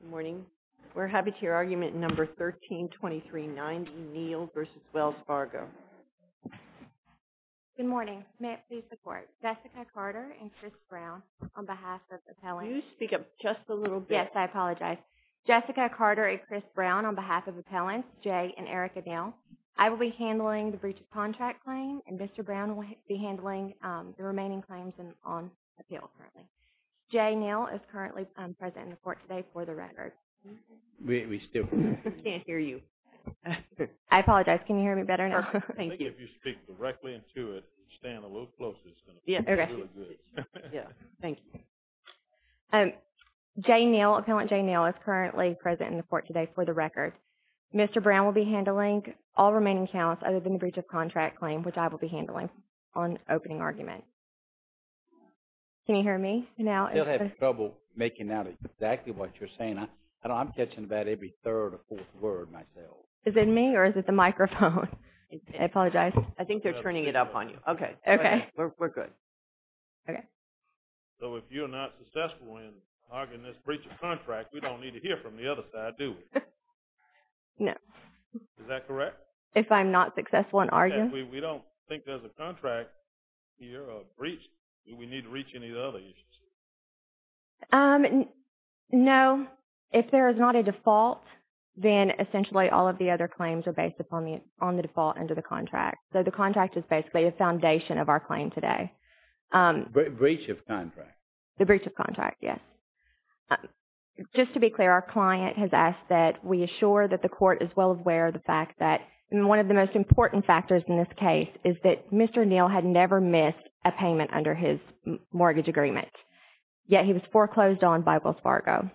Good morning. We're happy to hear argument number 132390, Neil v. Wells Fargo. Good morning. May I please report? Jessica Carter and Chris Brown on behalf of appellants. You speak up just a little bit. Yes, I apologize. Jessica Carter and Chris Brown on behalf of appellants Jay and Erica Neil. I will be handling the breach of contract claim and Mr. Brown will be handling the remaining claims on appeal currently. Jay Neil is currently present in the court today for the record. We still can't hear you. I apologize. Can you hear me better now? I think if you speak directly into it, stand a little closer, it's going to be really good. Yeah, thank you. Jay Neil, Appellant Jay Neil, is currently present in the court today for the record. Mr. Brown will be handling all remaining counts other than the breach of contract claim, which I will be handling on opening argument. Can you hear me now? You'll have trouble making out exactly what you're saying. I'm catching about every third or fourth word myself. Is it me or is it the microphone? I apologize. I think they're turning it up on you. Okay. Okay. We're good. Okay. So if you're not successful in arguing this breach of contract, we don't need to hear from the other side, do we? No. Is that correct? If I'm not successful in arguing? We don't think there's a contract here or a breach. Do we need to reach any of the other agencies? No. If there is not a default, then essentially all of the other claims are based upon the default under the contract. So the contract is basically the foundation of our claim today. Breach of contract. The breach of contract, yes. Just to be clear, our client has asked that we assure that the court is well aware of the fact that, and one of the most important factors in this case, is that Mr. Neil had never missed a payment under his mortgage agreement, yet he was foreclosed on by Wells Fargo.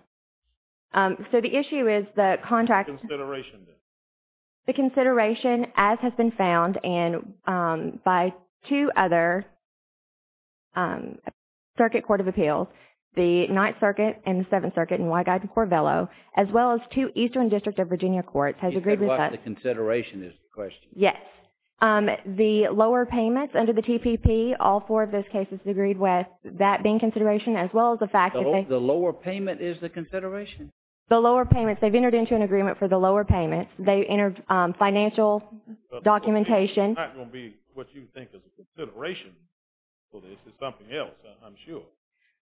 So the issue is the contract. The consideration, as has been found, and by two other circuit court of appeals, the Ninth Circuit and the Seventh Circuit, and Wyguide and Corvello, as well as two Eastern District of Virginia courts, has agreed with us. You said what the consideration is the question. Yes. The lower payments under the TPP, all four of those cases agreed with that being consideration, as well as the fact that they. The lower payment is the consideration? The lower payments. They've entered into an agreement for the lower payments. They entered financial documentation. It's not going to be what you think is a consideration for this. It's something else, I'm sure.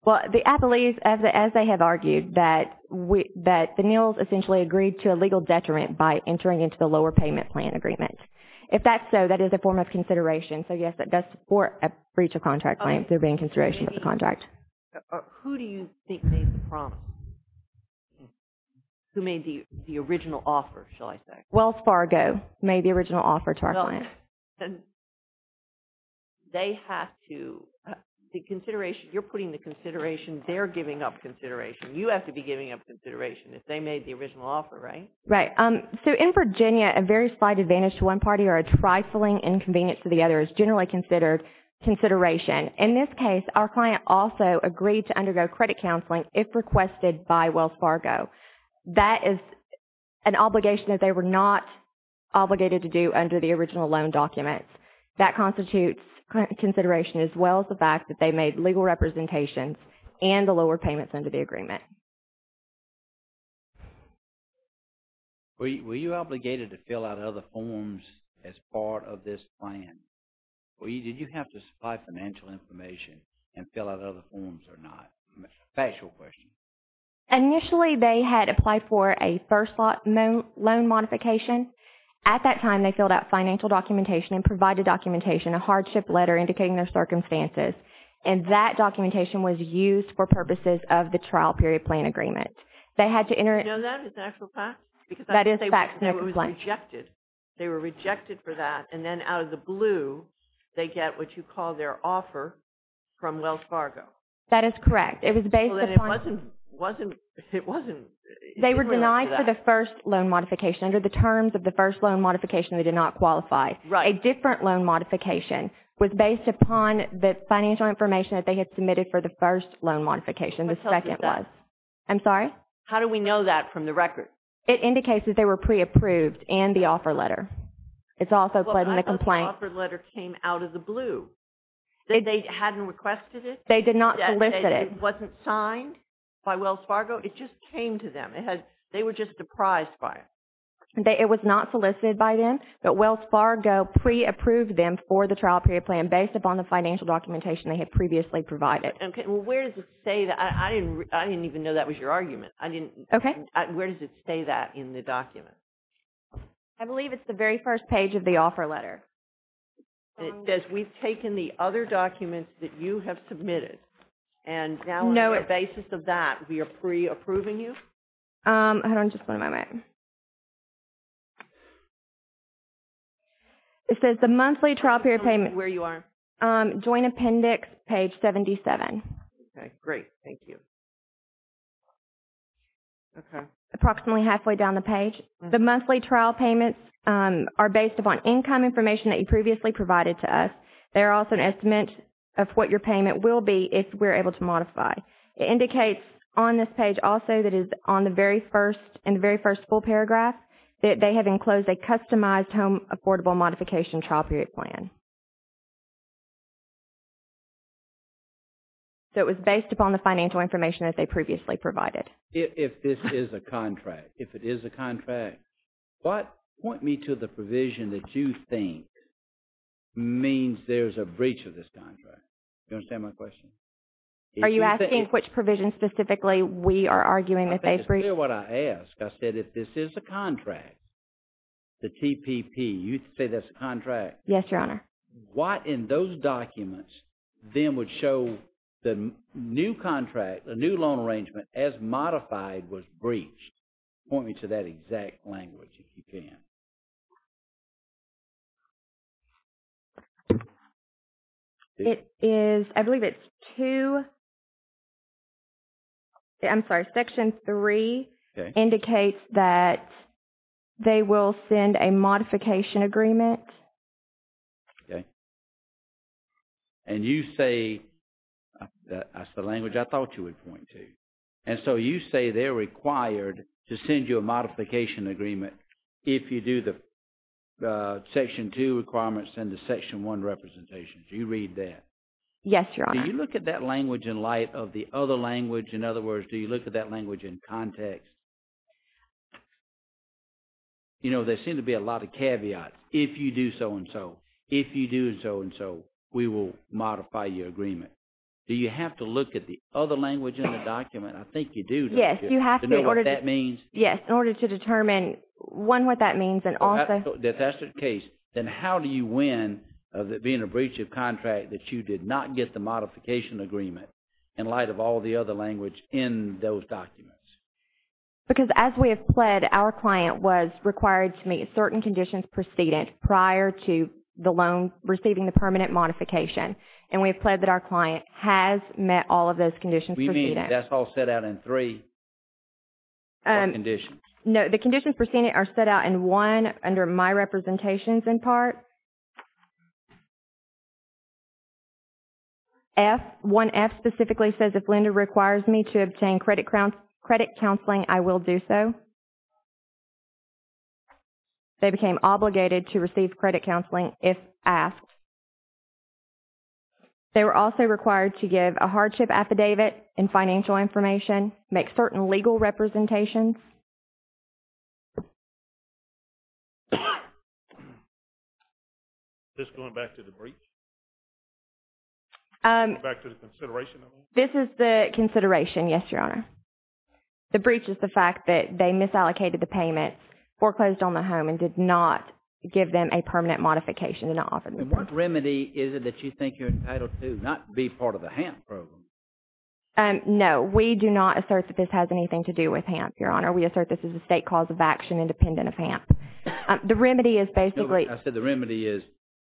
Well, the appellees, as they have argued, that the Neils essentially agreed to a legal detriment by entering into the lower payment plan agreement. If that's so, that is a form of consideration. So yes, that does support a breach of contract claim, there being consideration of the contract. Who do you think made the promise? Who made the original offer, shall I say? Wells Fargo made the original offer to our client. They have to, the consideration, you're putting the consideration, they're giving up consideration. You have to be giving up consideration if they made the original offer, right? Right. So in Virginia, a very slight advantage to one party or a trifling inconvenience to the other is generally considered consideration. In this case, our client also agreed to undergo credit counseling if requested by Wells Fargo. That is an obligation that they were not obligated to do under the original loan documents. That constitutes consideration, as well as the fact that they made legal representations and the lower payments under the agreement. Were you obligated to fill out other forms as part of this plan? Did you have to supply financial information and fill out other forms or not? Factual question. Initially, they had applied for a first loan modification. At that time, they filled out financial documentation and provided documentation, a hardship letter indicating their circumstances. And that documentation was used for purposes of the trial period plan agreement. Do you know that is actual fact? That is fact. It was rejected. They were rejected for that. And then out of the blue, they get what you call their offer from Wells Fargo. That is correct. It was based upon. It wasn't. They were denied for the first loan modification. Under the terms of the first loan modification, they did not qualify. Right. A different loan modification was based upon the financial information that they had submitted for the first loan modification. The second was. I'm sorry? How do we know that from the record? It indicates that they were pre-approved and the offer letter. It's also put in the complaint. But I thought the offer letter came out of the blue. They hadn't requested it? They did not solicit it. It wasn't signed by Wells Fargo? It just came to them. They were just surprised by it. It was not solicited by them, but Wells Fargo pre-approved them for the trial period plan based upon the financial documentation they had previously provided. Okay. Well, where does it say that? I didn't even know that was your argument. Okay. Where does it say that in the document? I believe it's the very first page of the offer letter. It says we've taken the other documents that you have submitted. And now on the basis of that, we are pre-approving you? Hold on just one moment. It says the monthly trial period payment. Where you are? Joint Appendix, page 77. Okay. Great. Thank you. Okay. Approximately halfway down the page. The monthly trial payments are based upon income information that you previously provided to us. They're also an estimate of what your payment will be if we're able to modify. It indicates on this page also that is on the very first, in the very first full paragraph, that they have enclosed a customized home affordable modification trial period plan. So it was based upon the financial information that they previously provided. If this is a contract, if it is a contract, what point me to the provision that you think means there's a breach of this contract? Do you understand my question? Are you asking which provision specifically we are arguing that they've breached? I think it's clear what I asked. I said if this is a contract, the TPP, you say that's a contract. Yes, Your Honor. What in those documents then would show the new contract, the new loan arrangement as modified was breached? Point me to that exact language if you can. It is, I believe it's two. I'm sorry, section three indicates that they will send a modification agreement. And you say, that's the language I thought you would point to. And so you say they're required to send you a modification agreement if you do the section two requirements and the section one representations. Do you read that? Yes, Your Honor. Do you look at that language in light of the other language? In other words, do you look at that language in context? You know, there seem to be a lot of caveats if you do so and so. If you do so and so, we will modify your agreement. Do you have to look at the other language in the document? I think you do, don't you? Yes, you have to. To know what that means? Yes, in order to determine, one, what that means and also. If that's the case, then how do you win of it being a breach of contract that you did not get the modification agreement in light of all the other language in those documents? Because as we have pled, our client was required to meet certain conditions precedence prior to the loan receiving the permanent modification. And we have pled that our client has met all of those conditions precedence. We mean, that's all set out in three conditions. No, the conditions precedence are set out in one under my representations in part. F, one F specifically says if Linda requires me to obtain credit counseling, I will do so. Two, they became obligated to receive credit counseling if asked. They were also required to give a hardship affidavit and financial information, make certain legal representations. This going back to the breach? Going back to the consideration of it? This is the consideration, yes, Your Honor. The breach is the fact that they misallocated the payment, foreclosed on the home and did not give them a permanent modification. And what remedy is it that you think you're entitled to, not be part of the HAMP program? No, we do not assert that this has anything to do with HAMP, Your Honor. We assert this is a state cause of action independent of HAMP. The remedy is basically. I said the remedy is,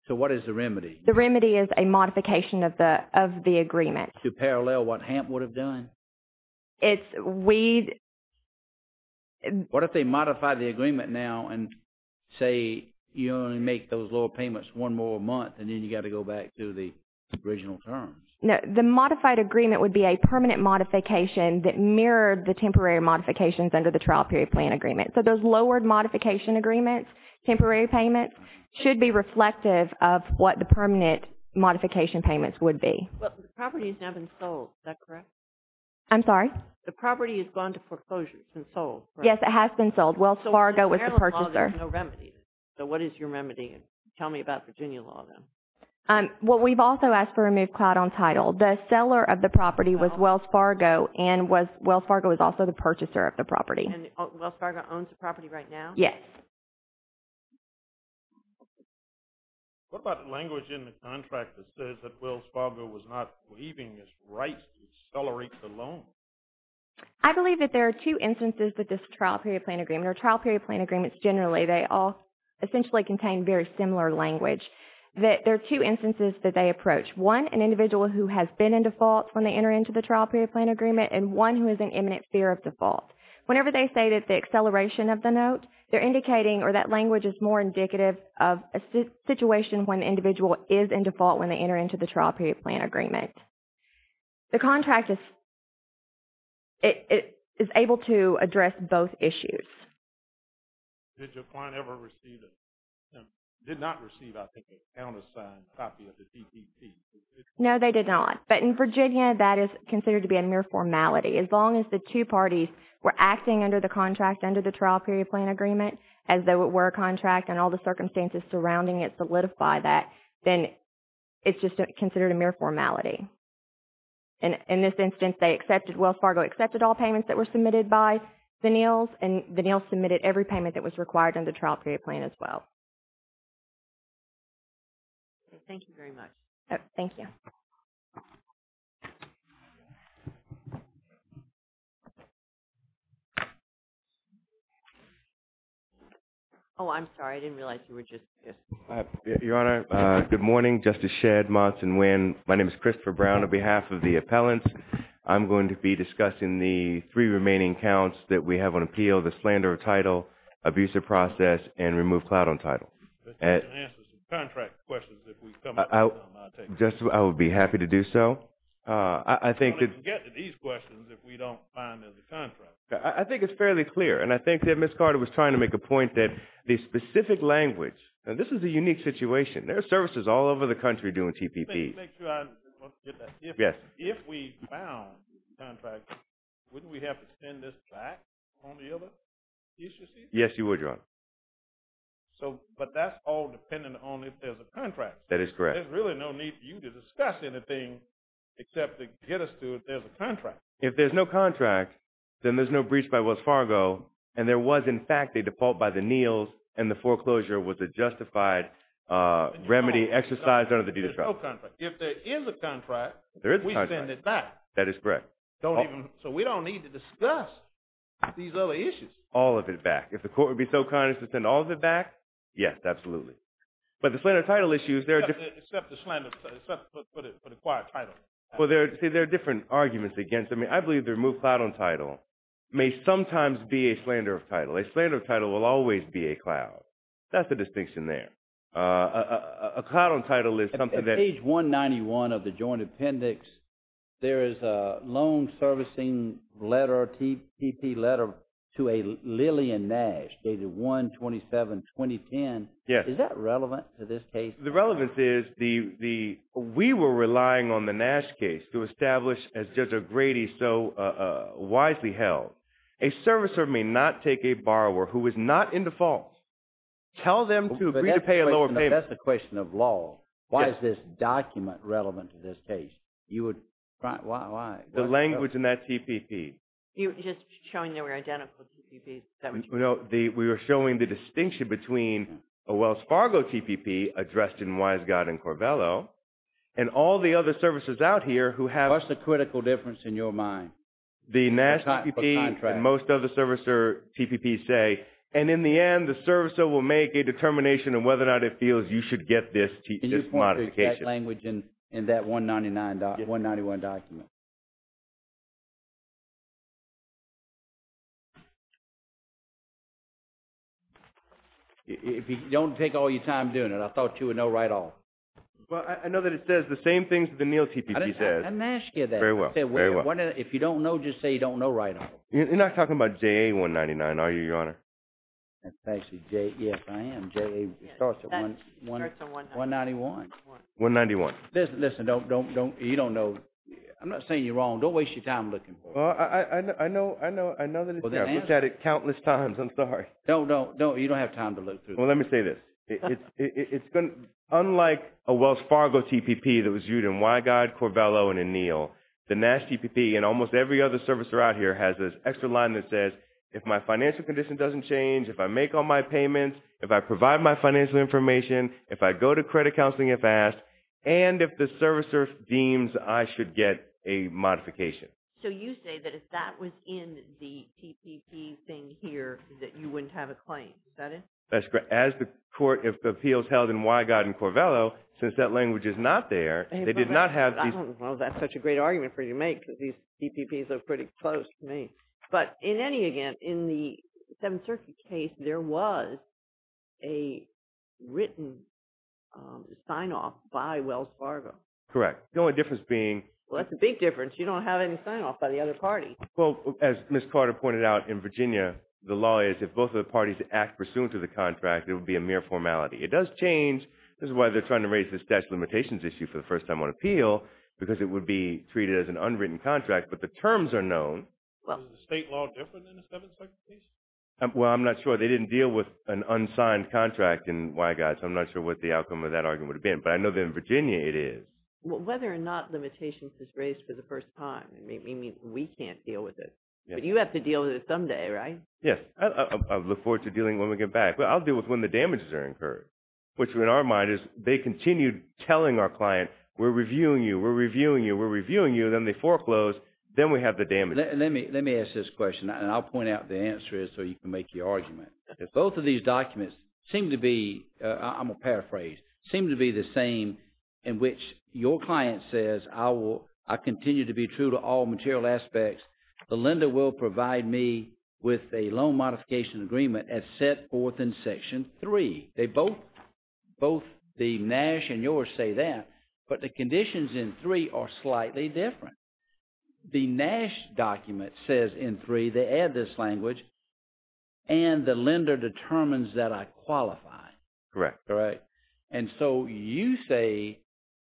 so what is the remedy? The remedy is a modification of the agreement. To parallel what HAMP would have done? It's we. What if they modify the agreement now and say, you only make those lower payments one more month and then you got to go back to the original terms? The modified agreement would be a permanent modification that mirrored the temporary modifications under the trial period plan agreement. So those lowered modification agreements, temporary payments, should be reflective of what the permanent modification payments would be. But the property has now been sold, is that correct? I'm sorry? The property has gone to foreclosure, it's been sold. Yes, it has been sold. Wells Fargo was the purchaser. So what is your remedy? Tell me about Virginia law, then. Well, we've also asked for a moved cloud on title. The seller of the property was Wells Fargo and Wells Fargo was also the purchaser of the property. And Wells Fargo owns the property right now? Yes. What about the language in the contract that says that Wells Fargo was not leaving his rights to accelerate the loan? I believe that there are two instances that this trial period plan agreement or trial period plan agreements generally, they all essentially contain very similar language. There are two instances that they approach. One, an individual who has been in default when they enter into the trial period plan agreement and one who is in imminent fear of default. Whenever they say that the acceleration of the note, they're indicating or that language is more indicative of a situation when the individual is in default when they enter into the trial period plan agreement. The contract is able to address both issues. Did your client ever receive a, did not receive, I think, a countersigned copy of the TPP? No, they did not. But in Virginia, that is considered to be a mere formality. As long as the two parties were acting under the contract under the trial period plan agreement, as though it were a contract and all the circumstances surrounding it solidify that, then it's just considered a mere formality. In this instance, they accepted, Wells Fargo accepted all payments that were submitted by the NILS and the NILS submitted every payment that was required in the trial period plan as well. Thank you very much. Thank you. Oh, I'm sorry. I didn't realize you were just, yes. Your Honor, good morning. Justice Shedd, Monson, Nguyen. My name is Christopher Brown. On behalf of the appellants, I'm going to be discussing the three remaining counts that we have on appeal, the slander of title, abusive process, and remove clout on title. This is going to answer some contract questions if we come up with some. I'll take it. Just, I will take it. I would be happy to do so. I think that… We can get to these questions if we don't find there's a contract. I think it's fairly clear, and I think that Ms. Carter was trying to make a point that the specific language, and this is a unique situation. There are services all over the country doing TPP. Let me make sure I get that. Yes. If we found contracts, wouldn't we have to extend this back on the other issues? Yes, you would, Your Honor. So, but that's all dependent on if there's a contract. That is correct. There's really no need for you to discuss anything except to get us to if there's a contract. If there's no contract, then there's no breach by Wells Fargo, and there was, in fact, a default by the Neals, and the foreclosure was a justified remedy exercised under the deed of trust. There's no contract. If there is a contract, we send it back. That is correct. So we don't need to discuss these other issues. All of it back. If the court would be so kind as to send all of it back, yes, absolutely. But the slander of title issues, they're different. Except for the acquired title. Well, see, there are different arguments against them. I believe the removed clout on title may sometimes be a slander of title. A slander of title will always be a clout. That's the distinction there. A clout on title is something that… At page 191 of the Joint Appendix, there is a loan servicing letter, a TPP letter to a Lilly and Nash dated 1-27-2010. Is that relevant to this case? The relevance is we were relying on the Nash case to establish, as Judge O'Grady so wisely held, a servicer may not take a borrower who is not in default, tell them to agree to pay a lower payment. That's the question of law. Why is this document relevant to this case? The language in that TPP. You're just showing they were identical TPPs. We were showing the distinction between a Wells Fargo TPP addressed in Wiseguy and Corvello, and all the other servicers out here who have… What's the critical difference in your mind? The Nash TPP and most other servicer TPPs say, and in the end, the servicer will make a determination on whether or not it feels you should get this modification. Can you point to that language in that 199 document? If you don't take all your time doing it, I thought you would know right off. I know that it says the same things that the Neal TPP says. I didn't ask you that. Very well. If you don't know, just say you don't know right off. You're not talking about JA 199, are you, Your Honor? Yes, I am. It starts at 191. 191. Listen, you don't know. Don't waste your time looking for it. I know that it's there. I've looked at it countless times. I'm sorry. No, you don't have time to look through it. Well, let me say this. Unlike a Wells Fargo TPP that was viewed in Wyguide, Corvello, and in Neal, the Nash TPP and almost every other servicer out here has this extra line that says, if my financial condition doesn't change, if I make all my payments, if I provide my financial information, if I go to credit counseling if asked, and if the servicer deems I should get a modification. So you say that if that was in the TPP thing here, that you wouldn't have a claim. Is that it? That's correct. As the appeals held in Wyguide and Corvello, since that language is not there, they did not have these. Well, that's such a great argument for you to make because these TPPs are pretty close to me. But in any event, in the Seventh Circuit case, there was a written sign-off by Wells Fargo. Correct. The only difference being. Well, that's a big difference. You don't have any sign-off by the other party. Well, as Ms. Carter pointed out, in Virginia, the law is if both of the parties act pursuant to the contract, it would be a mere formality. It does change. This is why they're trying to raise the statute of limitations issue for the first time on appeal, because it would be treated as an unwritten contract. But the terms are known. Is the state law different in the Seventh Circuit case? Well, I'm not sure. They didn't deal with an unsigned contract in Wyguide, so I'm not sure what the outcome of that argument would have been. But I know that in Virginia it is. Well, whether or not limitations is raised for the first time, it means we can't deal with it. But you have to deal with it someday, right? Yes. I look forward to dealing with it when we get back. But I'll deal with it when the damages are incurred, which in our mind is they continue telling our client, we're reviewing you, we're reviewing you, we're reviewing you, then they foreclose, then we have the damages. Let me ask this question, and I'll point out what the answer is so you can make your argument. Both of these documents seem to be, I'm going to paraphrase, seem to be the same in which your client says, I continue to be true to all material aspects. The lender will provide me with a loan modification agreement as set forth in Section 3. Both the NASH and yours say that, but the conditions in 3 are slightly different. The NASH document says in 3 they add this language, and the lender determines that I qualify. Correct. Correct. And so you say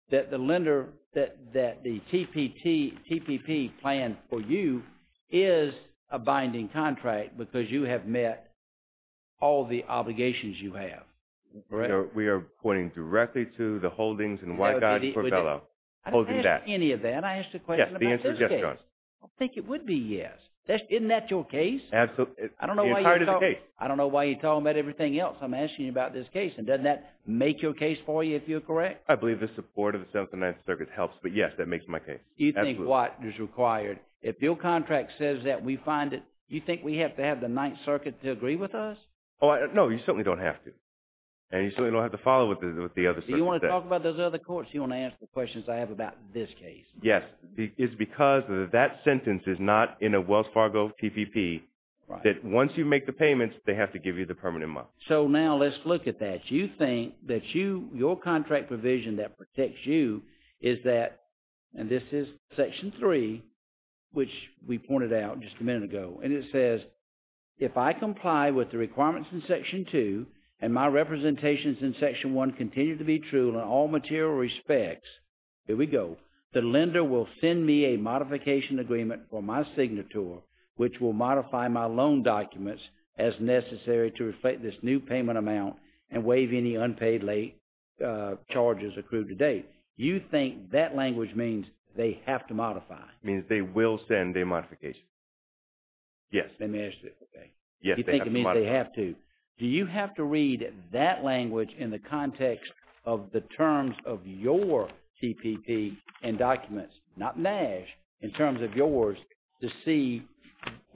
that the lender, that the TPP plan for you is a binding contract because you have met all the obligations you have. Correct. We are pointing directly to the holdings and white guides for fellow holding that. I didn't ask any of that. I asked a question about this case. Yes, the answer is yes, John. I don't think it would be yes. Isn't that your case? Absolutely. The entire case. I don't know why you're talking about everything else. I'm asking you about this case, and doesn't that make your case for you if you're correct? I believe the support of the Seventh and Ninth Circuits helps, but yes, that makes my case. You think what is required. If your contract says that we find it, you think we have to have the Ninth Circuit to agree with us? No, you certainly don't have to, and you certainly don't have to follow what the other circuits say. Do you want to talk about those other courts or do you want to answer the questions I have about this case? Yes. It's because that sentence is not in a Wells Fargo TPP that once you make the payments, they have to give you the permanent month. So now let's look at that. You think that your contract provision that protects you is that, and this is Section 3, which we pointed out just a minute ago, and it says, if I comply with the requirements in Section 2 and my representations in Section 1 continue to be true in all material respects, here we go, the lender will send me a modification agreement for my signature which will modify my loan documents as necessary to reflect this new payment amount and waive any unpaid late charges accrued to date. You think that language means they have to modify? It means they will send a modification. Yes. They managed to, okay. Yes, they have to modify. You think it means they have to. Do you have to read that language in the context of the terms of your TPP and documents, not NASH, in terms of yours to see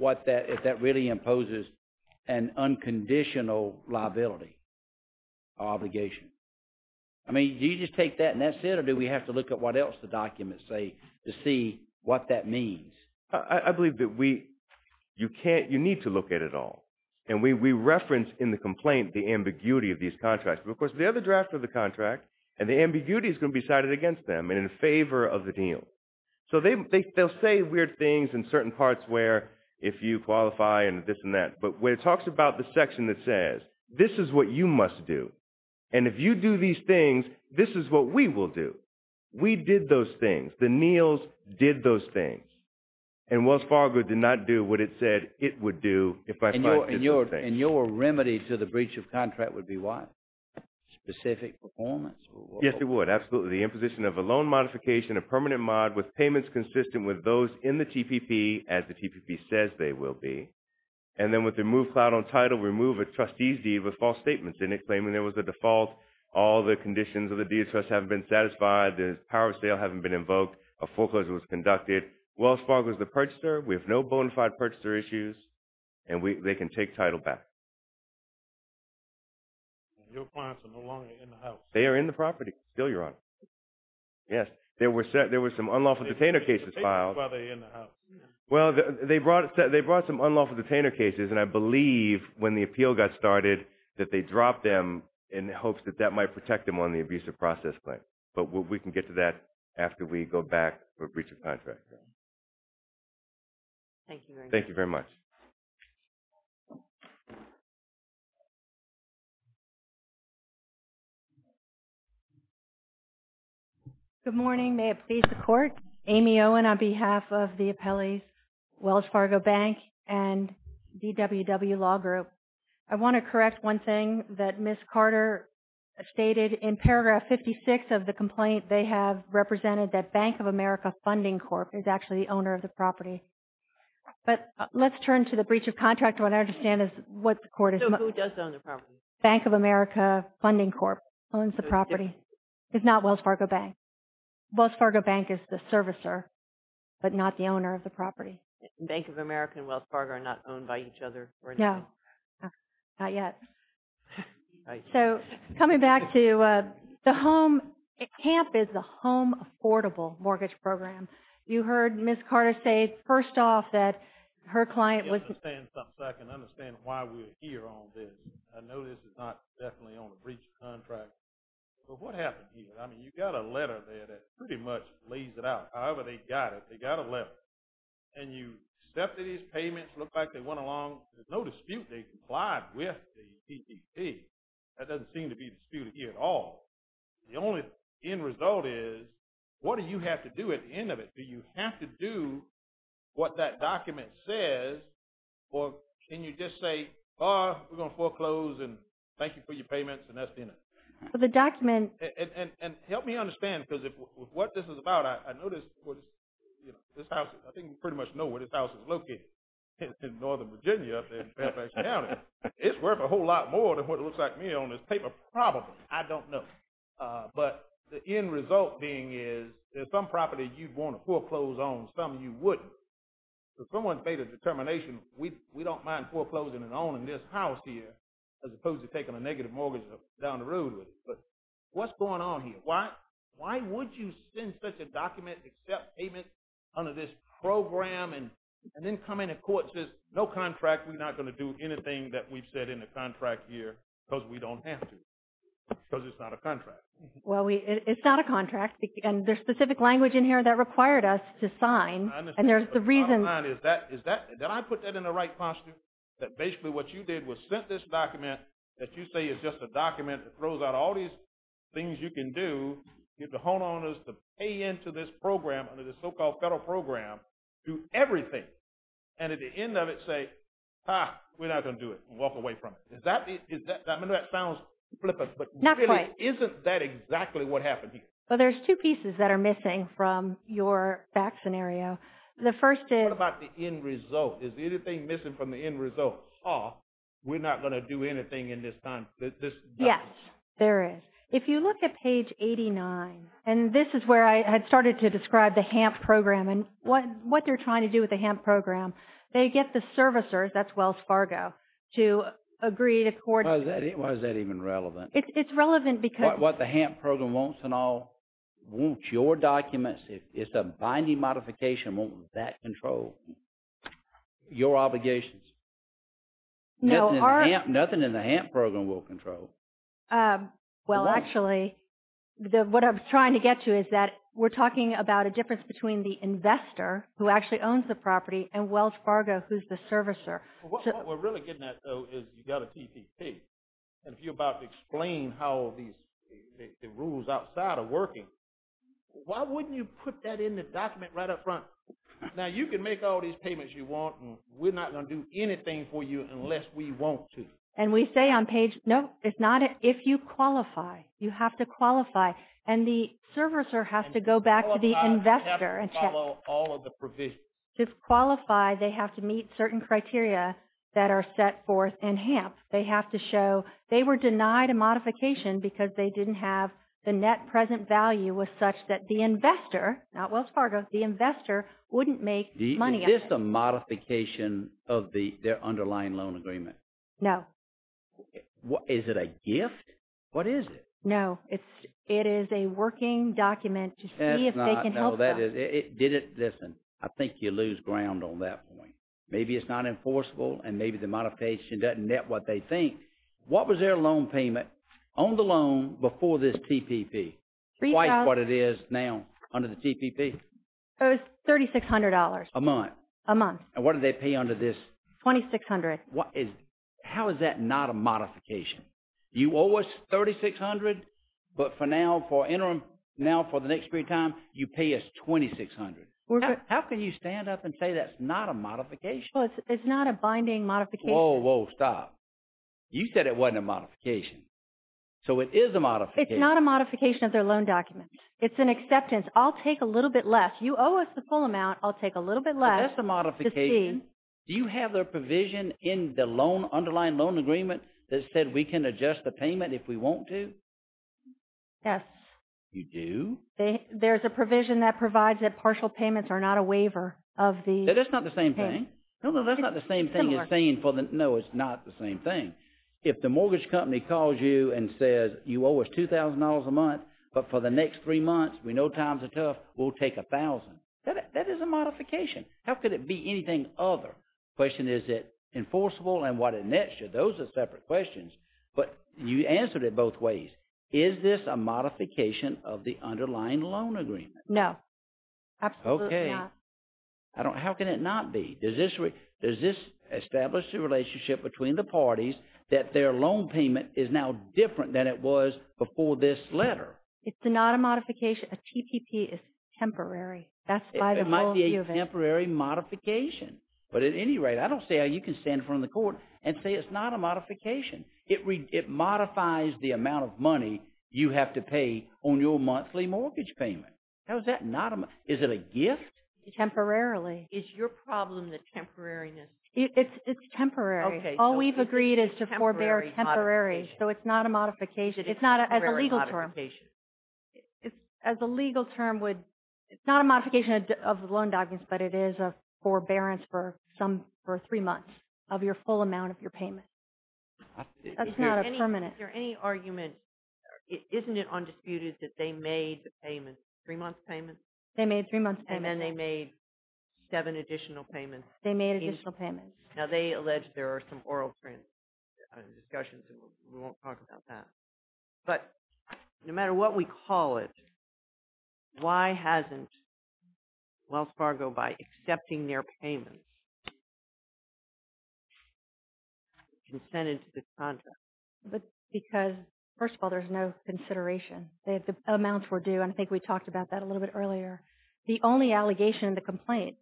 if that really imposes an unconditional liability or obligation? I mean, do you just take that and that's it, or do we have to look at what else the documents say to see what that means? I believe that you need to look at it all, and we reference in the complaint the ambiguity of these contracts. Of course, they're the draft of the contract, and the ambiguity is going to be cited against them and in favor of the deal. So they'll say weird things in certain parts where, if you qualify and this and that, but when it talks about the section that says, this is what you must do, and if you do these things, this is what we will do. We did those things. The Neal's did those things, and Wells Fargo did not do what it said it would do if I did those things. And your remedy to the breach of contract would be what? Specific performance? Yes, it would, absolutely. So the imposition of a loan modification, a permanent mod, with payments consistent with those in the TPP, as the TPP says they will be. And then with the removed cloud on title, remove a trustee's deed with false statements in it, claiming there was a default. All the conditions of the deed of trust haven't been satisfied. The power of sale hasn't been invoked. A foreclosure was conducted. Wells Fargo is the purchaser. We have no bona fide purchaser issues, and they can take title back. And your clients are no longer in the house? They are in the property still, Your Honor. Yes. There were some unlawful detainer cases filed. Well, they brought some unlawful detainer cases, and I believe when the appeal got started that they dropped them in hopes that that might protect them on the abusive process claim. But we can get to that after we go back for breach of contract. Thank you very much. Thank you very much. Good morning. May it please the Court. Amy Owen on behalf of the appellees, Wells Fargo Bank and DWW Law Group. I want to correct one thing that Ms. Carter stated. In paragraph 56 of the complaint, they have represented that Bank of America Funding Corp. is actually the owner of the property. But let's turn to the breach of contract. What I understand is what the court is. Who does own the property? Bank of America Funding Corp. owns the property. It's not Wells Fargo Bank. Wells Fargo Bank is the servicer, but not the owner of the property. Bank of America and Wells Fargo are not owned by each other? No. Not yet. Coming back to the home, CAMP is the Home Affordable Mortgage Program. You heard Ms. Carter say first off that her client was I can understand why we're here on this. I know this is not definitely on the breach of contract. But what happened here? I mean you've got a letter there that pretty much lays it out. However they got it. They got a letter. And you accepted his payments, looked like they went along. There's no dispute. They complied with the PPP. That doesn't seem to be disputed here at all. The only end result is, what do you have to do at the end of it? Do you have to do what that document says, or can you just say, we're going to foreclose and thank you for your payments, and that's the end of it? The document. And help me understand, because what this is about, I noticed this house, I think we pretty much know where this house is located, in Northern Virginia, in Fairfax County. It's worth a whole lot more than what it looks like to me on this paper, probably. I don't know. But the end result being is, there's some property you'd want to foreclose on, some you wouldn't. So someone's made a determination, we don't mind foreclosing and owning this house here, as opposed to taking a negative mortgage down the road with it. But what's going on here? Why would you send such a document, accept payment under this program, and then come in and court says, no contract, we're not going to do anything that we've said in the contract here, because we don't have to. Because it's not a contract. Well, it's not a contract. And there's specific language in here that required us to sign. And there's the reason. Did I put that in the right posture? That basically what you did was sent this document that you say is just a document that throws out all these things you can do. You have to hone on us to pay into this program, under the so-called federal program, to everything. And at the end of it say, ah, we're not going to do it and walk away from it. I know that sounds flippant. Not quite. But really, isn't that exactly what happened here? Well, there's two pieces that are missing from your back scenario. The first is. What about the end result? Is anything missing from the end result? Ah, we're not going to do anything in this time. Yes, there is. If you look at page 89, and this is where I had started to describe the HAMP program and what they're trying to do with the HAMP program, they get the servicers, that's Wells Fargo, to agree to court. Why is that even relevant? It's relevant because. What the HAMP program wants and all, wants your documents. If it's a binding modification, won't that control your obligations? No. Nothing in the HAMP program will control. Well, actually, what I'm trying to get to is that we're talking about a difference between the investor, who actually owns the property, and Wells Fargo, who's the servicer. What we're really getting at, though, is you've got a TPP. And if you're about to explain how these, the rules outside are working, why wouldn't you put that in the document right up front? Now, you can make all these payments you want, and we're not going to do anything for you unless we want to. And we say on page, no, it's not, if you qualify, you have to qualify. And the servicer has to go back to the investor. I have to follow all of the provisions. To qualify, they have to meet certain criteria that are set forth in HAMP. They have to show, they were denied a modification because they didn't have the net present value was such that the investor, not Wells Fargo, the investor wouldn't make money. Is this a modification of their underlying loan agreement? No. Is it a gift? What is it? No, it is a working document to see if they can help them. No, that is, listen, I think you lose ground on that point. Maybe it's not enforceable, and maybe the modification doesn't net what they think. What was their loan payment on the loan before this TPP? Three thousand. Quite what it is now under the TPP? It was $3,600. A month? A month. And what did they pay under this? $2,600. How is that not a modification? You owe us $3,600, but for now, for interim, now for the next period of time, you pay us $2,600. How can you stand up and say that's not a modification? Well, it's not a binding modification. Whoa, whoa, stop. You said it wasn't a modification. So it is a modification. It's not a modification of their loan document. It's an acceptance. I'll take a little bit less. You owe us the full amount. I'll take a little bit less. But that's a modification. To see. Do you have their provision in the loan, underlying loan agreement, that said we can adjust the payment if we want to? Yes. You do? There's a provision that provides that partial payments are not a waiver of the… That's not the same thing. No, no, that's not the same thing as saying for the… No, it's not the same thing. If the mortgage company calls you and says, you owe us $2,000 a month, but for the next three months, we know times are tough, we'll take $1,000. That is a modification. How could it be anything other? The question is, is it enforceable and what is next? Those are separate questions. But you answered it both ways. Is this a modification of the underlying loan agreement? No. Absolutely not. Okay. How can it not be? Does this establish the relationship between the parties that their loan payment is now different than it was before this letter? It's not a modification. A TPP is temporary. That's by the whole view of it. It might be a temporary modification. But at any rate, I don't see how you can stand in front of the court and say it's not a modification. It modifies the amount of money you have to pay on your monthly mortgage payment. How is that not a… Is it a gift? Temporarily. Is your problem the temporariness? It's temporary. All we've agreed is to forbear temporary. So it's not a modification. It's not as a legal term. As a legal term, it's not a modification of the loan documents, but it is a forbearance for three months of your full amount of your payment. That's not a permanent. Is there any argument, isn't it undisputed that they made payments, three months payments? They made three months payments. And then they made seven additional payments. They made additional payments. Now they allege there are some oral transactions and we won't talk about that. But no matter what we call it, why hasn't Wells Fargo, by accepting their payments, consented to this contract? Because, first of all, there's no consideration. The amounts were due, and I think we talked about that a little bit earlier. The only allegation in the complaint,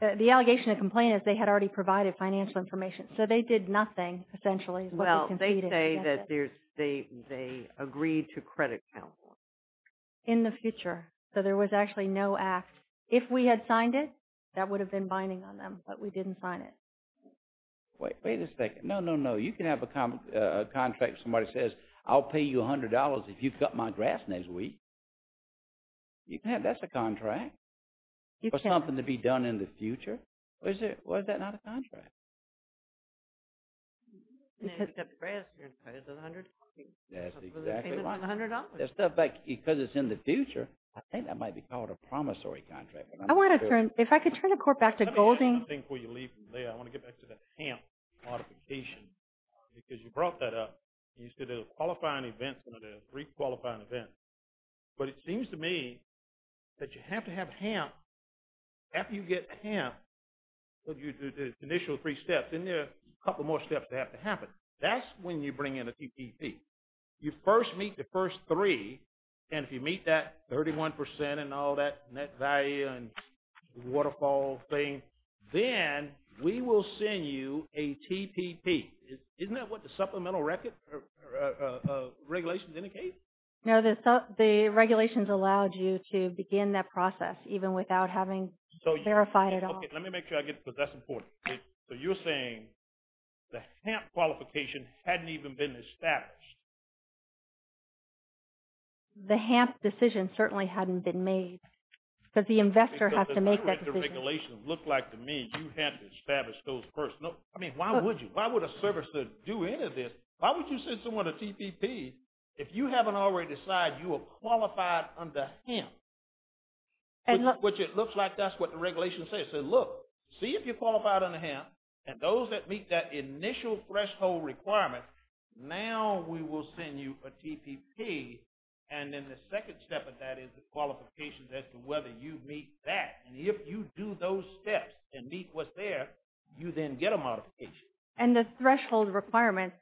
the allegation in the complaint is they had already provided financial information. So they did nothing, essentially. Well, they say that they agreed to credit count. In the future. So there was actually no act. If we had signed it, that would have been binding on them, but we didn't sign it. Wait a second. No, no, no. You can have a contract where somebody says, I'll pay you $100 if you cut my grass next week. You can have, that's a contract. For something to be done in the future. Why is that not a contract? That's exactly right. Because it's in the future, I think that might be called a promissory contract. I want to turn, if I could turn the court back to Golding. Before you leave from there, I want to get back to the HAMP modification. Because you brought that up. You said a qualifying event, a three qualifying event. But it seems to me, that you have to have HAMP, after you get HAMP, the initial three steps, isn't there a couple more steps that have to happen? That's when you bring in a TPP. You first meet the first three, and if you meet that 31% and all that, net value and waterfall thing, then we will send you a TPP. Isn't that what the supplemental record, regulations indicate? No, the regulations allowed you to begin that process, even without having verified it all. Okay, let me make sure I get, because that's important. So you're saying, the HAMP qualification hadn't even been established. The HAMP decision certainly hadn't been made. Because the investor has to make that decision. The regulations look like to me, you have to establish those first. I mean, why would you? Why would a service do any of this? Why would you send someone a TPP, if you haven't already decided you are qualified under HAMP? Which it looks like, that's what the regulations say. It says, look, see if you're qualified under HAMP, and those that meet that initial threshold requirement, now we will send you a TPP. And then the second step of that, is the qualifications as to whether you meet that. And if you do those steps, and meet what's there, you then get a modification. And the threshold requirements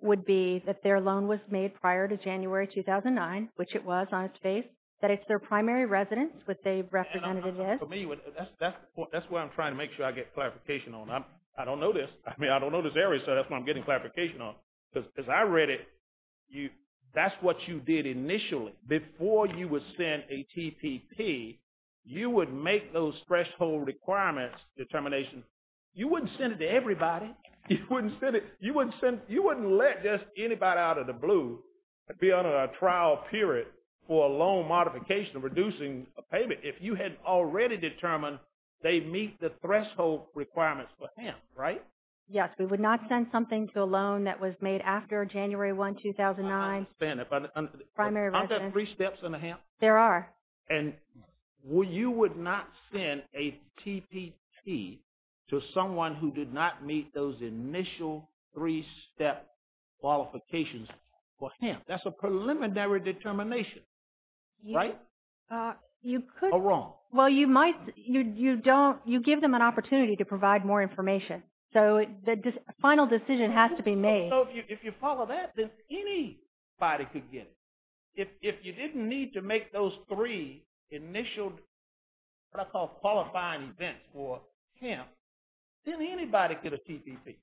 would be, that their loan was made prior to January 2009, which it was on its face, that it's their primary residence, which they represented it as. For me, that's where I'm trying to make sure I get clarification on. I don't know this. I mean, I don't know this area, so that's what I'm getting clarification on. Because as I read it, that's what you did initially. Before you would send a TPP, you would make those threshold requirements determination. You wouldn't send it to everybody. You wouldn't let just anybody out of the blue be under a trial period for a loan modification of reducing a payment, if you had already determined they meet the threshold requirements for HAMP. Right? Yes, we would not send something to a loan that was made after January 1, 2009. I understand that. But aren't there three steps under HAMP? There are. And you would not send a TPP to someone who did not meet those initial three-step qualifications for HAMP. That's a preliminary determination. Right? You could. Or wrong. Well, you might. You don't. You give them an opportunity to provide more information. So the final decision has to be made. So if you follow that, then anybody could get it. If you didn't need to make those three initial, what I call qualifying events for HAMP, then anybody could get a TPP.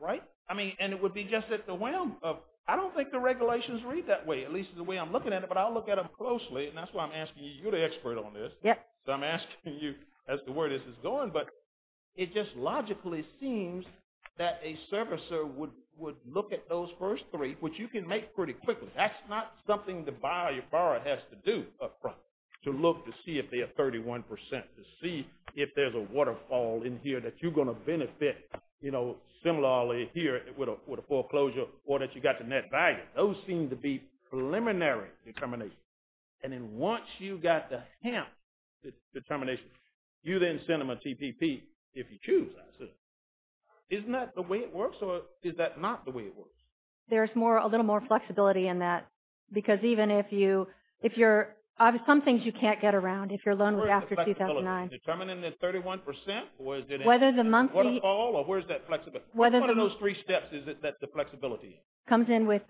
Right? I mean, and it would be just at the whim of, I don't think the regulations read that way, at least the way I'm looking at it, but I'll look at them closely. And that's why I'm asking you. You're the expert on this. Yes. So I'm asking you as to where this is going. But it just logically seems that a servicer would look at those first three, which you can make pretty quickly. That's not something the borrower has to do up front, to look to see if they're 31 percent, to see if there's a waterfall in here that you're going to benefit similarly here with a foreclosure, or that you've got the net value. Those seem to be preliminary determinations. And then once you've got the HAMP determination, you then send them a TPP if you choose, I assume. Isn't that the way it works, or is that not the way it works? There's a little more flexibility in that, because even if you're, some things you can't get around if you're a loaner after 2009. Determining the 31 percent, or is it all, or where's that flexibility? What are those three steps that the flexibility is? It comes in with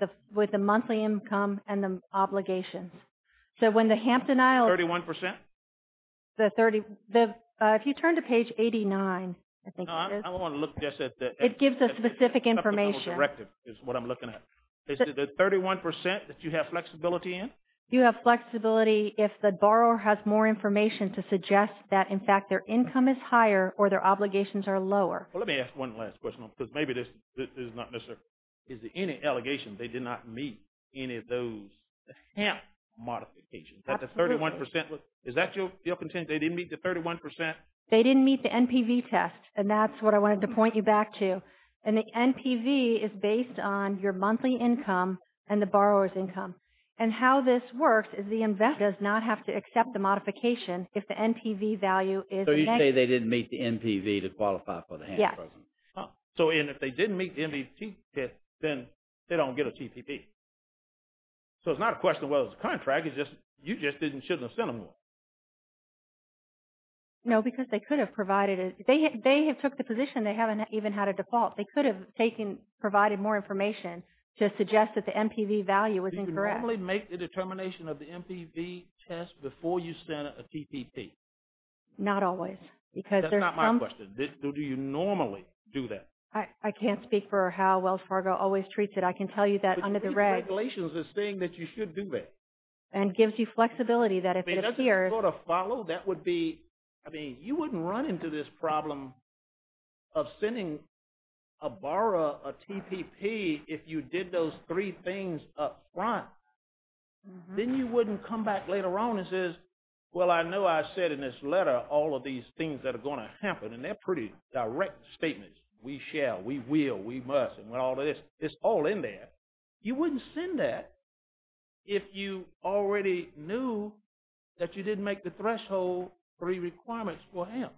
the monthly income and the obligations. So when the HAMP denial... 31 percent? If you turn to page 89, I think it is. I want to look just at the... It gives a specific information. It's what I'm looking at. Is it the 31 percent that you have flexibility in? You have flexibility if the borrower has more information to suggest that, in fact, their income is higher or their obligations are lower. Let me ask one last question, because maybe this is not necessary. Is there any allegation they did not meet any of those HAMP modifications? Is that the 31 percent? Is that your content, they didn't meet the 31 percent? They didn't meet the NPV test, and that's what I wanted to point you back to. And the NPV is based on your monthly income and the borrower's income. And how this works is the INVEST does not have to accept the modification if the NPV value is... So you say they didn't meet the NPV to qualify for the HAMP? Yes. So if they didn't meet the NPV test, then they don't get a TPP. So it's not a question of whether it's a contract. You just shouldn't have sent them more. No, because they could have provided... They have took the position they haven't even had a default. They could have provided more information to suggest that the NPV value was incorrect. Do you normally make the determination of the NPV test before you send a TPP? Not always, because there's some... That's not my question. Do you normally do that? I can't speak for how Wells Fargo always treats it. I can tell you that under the reg... But the regulations are saying that you should do that. And gives you flexibility that if it appears... It doesn't sort of follow. That would be... I mean, you wouldn't run into this problem of sending a borrower a TPP if you did those three things up front. Then you wouldn't come back later on and says, well, I know I said in this letter all of these things that are going to happen. And they're pretty direct statements. We shall, we will, we must, and all of this. It's all in there. You wouldn't send that if you already knew that you didn't make the threshold three requirements for him.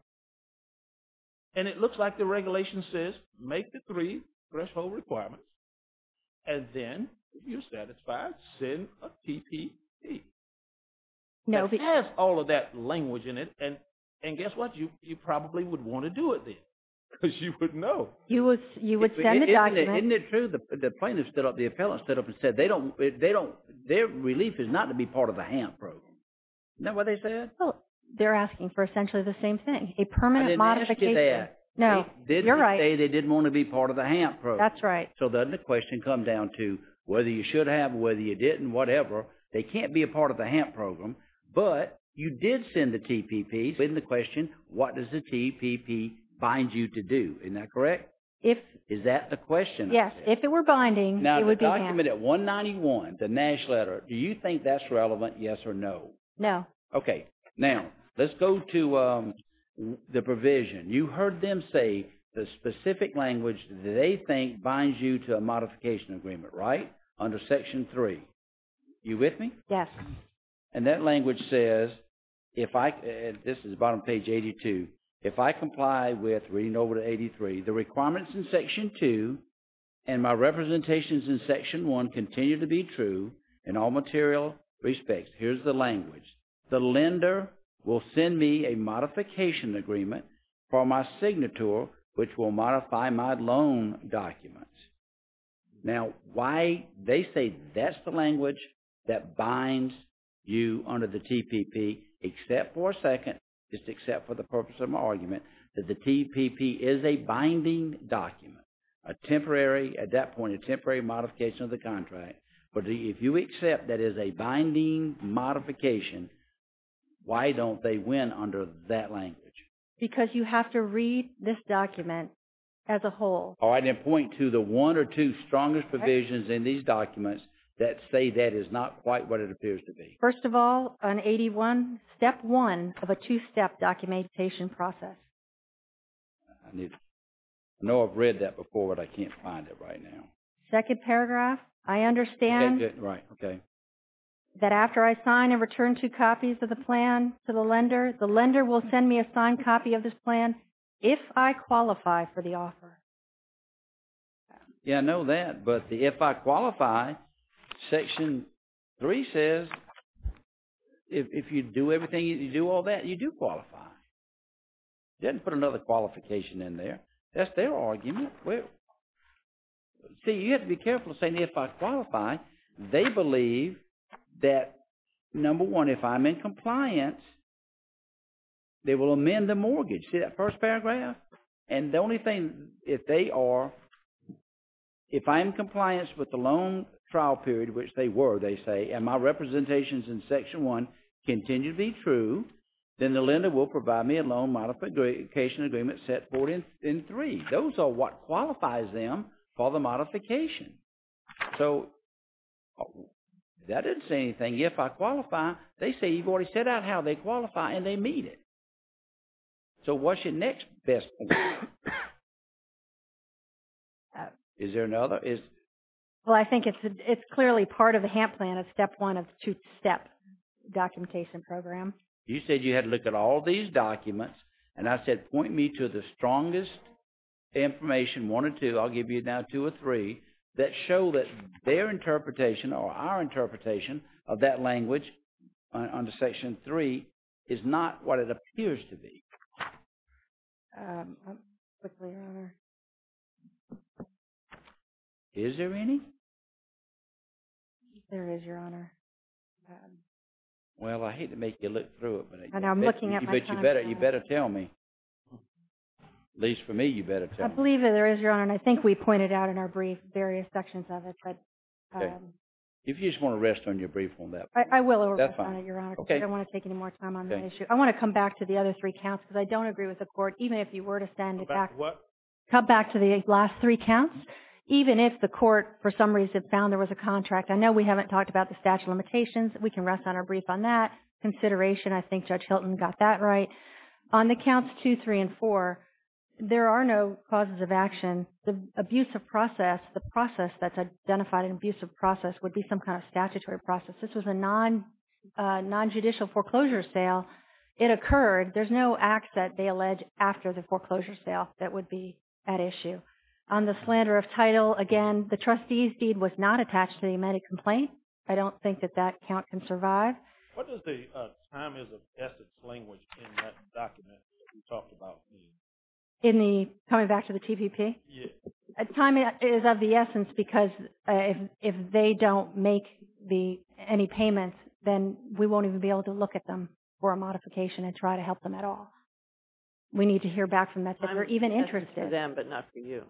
And it looks like the regulation says make the three threshold requirements. And then, if you're satisfied, send a TPP. It has all of that language in it. And guess what? You probably would want to do it then. Because you wouldn't know. You would send the document. Isn't it true? The plaintiff stood up, the appellant stood up and said, their relief is not to be part of the HAMP program. Isn't that what they said? Well, they're asking for essentially the same thing. A permanent modification. I didn't ask you that. No, you're right. They didn't say they didn't want to be part of the HAMP program. That's right. So doesn't the question come down to whether you should have, whether you didn't, whatever. They can't be a part of the HAMP program. But you did send the TPP. So then the question, what does the TPP bind you to do? Isn't that correct? Is that the question? Yes, if it were binding, it would be HAMP. Now, the document at 191, the Nash letter, do you think that's relevant, yes or no? No. Okay. Now, let's go to the provision. You heard them say the specific language they think binds you to a modification agreement, right? Under section 3. You with me? Yes. And that language says, if I, this is bottom page 82, if I comply with reading over to 83, the requirements in section 2 and my representations in section 1 continue to be true in all material respects. Here's the language. The lender will send me a modification agreement for my signature, which will modify my loan documents. Now, why they say that's the language that binds you under the TPP, except for a second, just except for the purpose of my argument, that the TPP is a binding document. A temporary, at that point, a temporary modification of the contract. But if you accept that as a binding modification, why don't they win under that language? Because you have to read this document as a whole. All right. Then point to the one or two strongest provisions in these documents that say that is not quite what it appears to be. First of all, on 81, step 1 of a two-step documentation process. I know I've read that before, but I can't find it right now. Second paragraph. I understand that after I sign and return two copies of the plan to the lender, the lender will send me a signed copy of this plan if I qualify for the offer. Yeah, I know that. But the if I qualify, section 3 says, if you do everything, you do all that, you do qualify. They didn't put another qualification in there. That's their argument. See, you have to be careful of saying if I qualify. They believe that, number one, if I'm in compliance, they will amend the mortgage. See that first paragraph? And the only thing, if they are, if I'm in compliance with the loan trial period, which they were, they say, and my representations in section 1 continue to be true, then the lender will provide me a loan modification agreement set forth in 3. Those are what qualifies them for the modification. So that doesn't say anything. If I qualify, they say you've already set out how they qualify and they meet it. So what's your next best plan? Is there another? Well, I think it's clearly part of the HAMP plan, a step one of the two-step documentation program. You said you had to look at all these documents and I said point me to the strongest information, one or two, I'll give you now two or three, that show that their interpretation or our interpretation of that language under section 3 is not what it appears to be. Is there any? Well, I hate to make you look through it. I know I'm looking at my phone. But you better tell me. At least for me, you better tell me. I believe that there is, Your Honor, and I think we pointed out in our brief various sections of it. If you just want to rest on your brief on that. I will rest on it, Your Honor. Okay. I don't want to take any more time on that issue. I want to come back to the other three counts because I don't agree with the court, even if you were to send it back. Come back to what? Come back to the last three counts. Even if the court, for some reason, found there was a contract, I know we haven't talked about the statute of limitations, we can rest on our brief on that. That's a good consideration. I think Judge Hilton got that right. On the counts two, three, and four, there are no causes of action. The abuse of process, the process that's identified an abusive process would be some kind of statutory process. This was a non-judicial foreclosure sale. It occurred. There's no act that they allege after the foreclosure sale that would be at issue. On the slander of title, again, the trustee's deed was not attached to the amended complaint. I don't think that that count can survive. What does the time is of essence language in that document that you talked about mean? In the, coming back to the TVP? Yes. Time is of the essence because if they don't make any payments, then we won't even be able to look at them for a modification and try to help them at all. We need to hear back from that. Time is of essence for them, but not for you.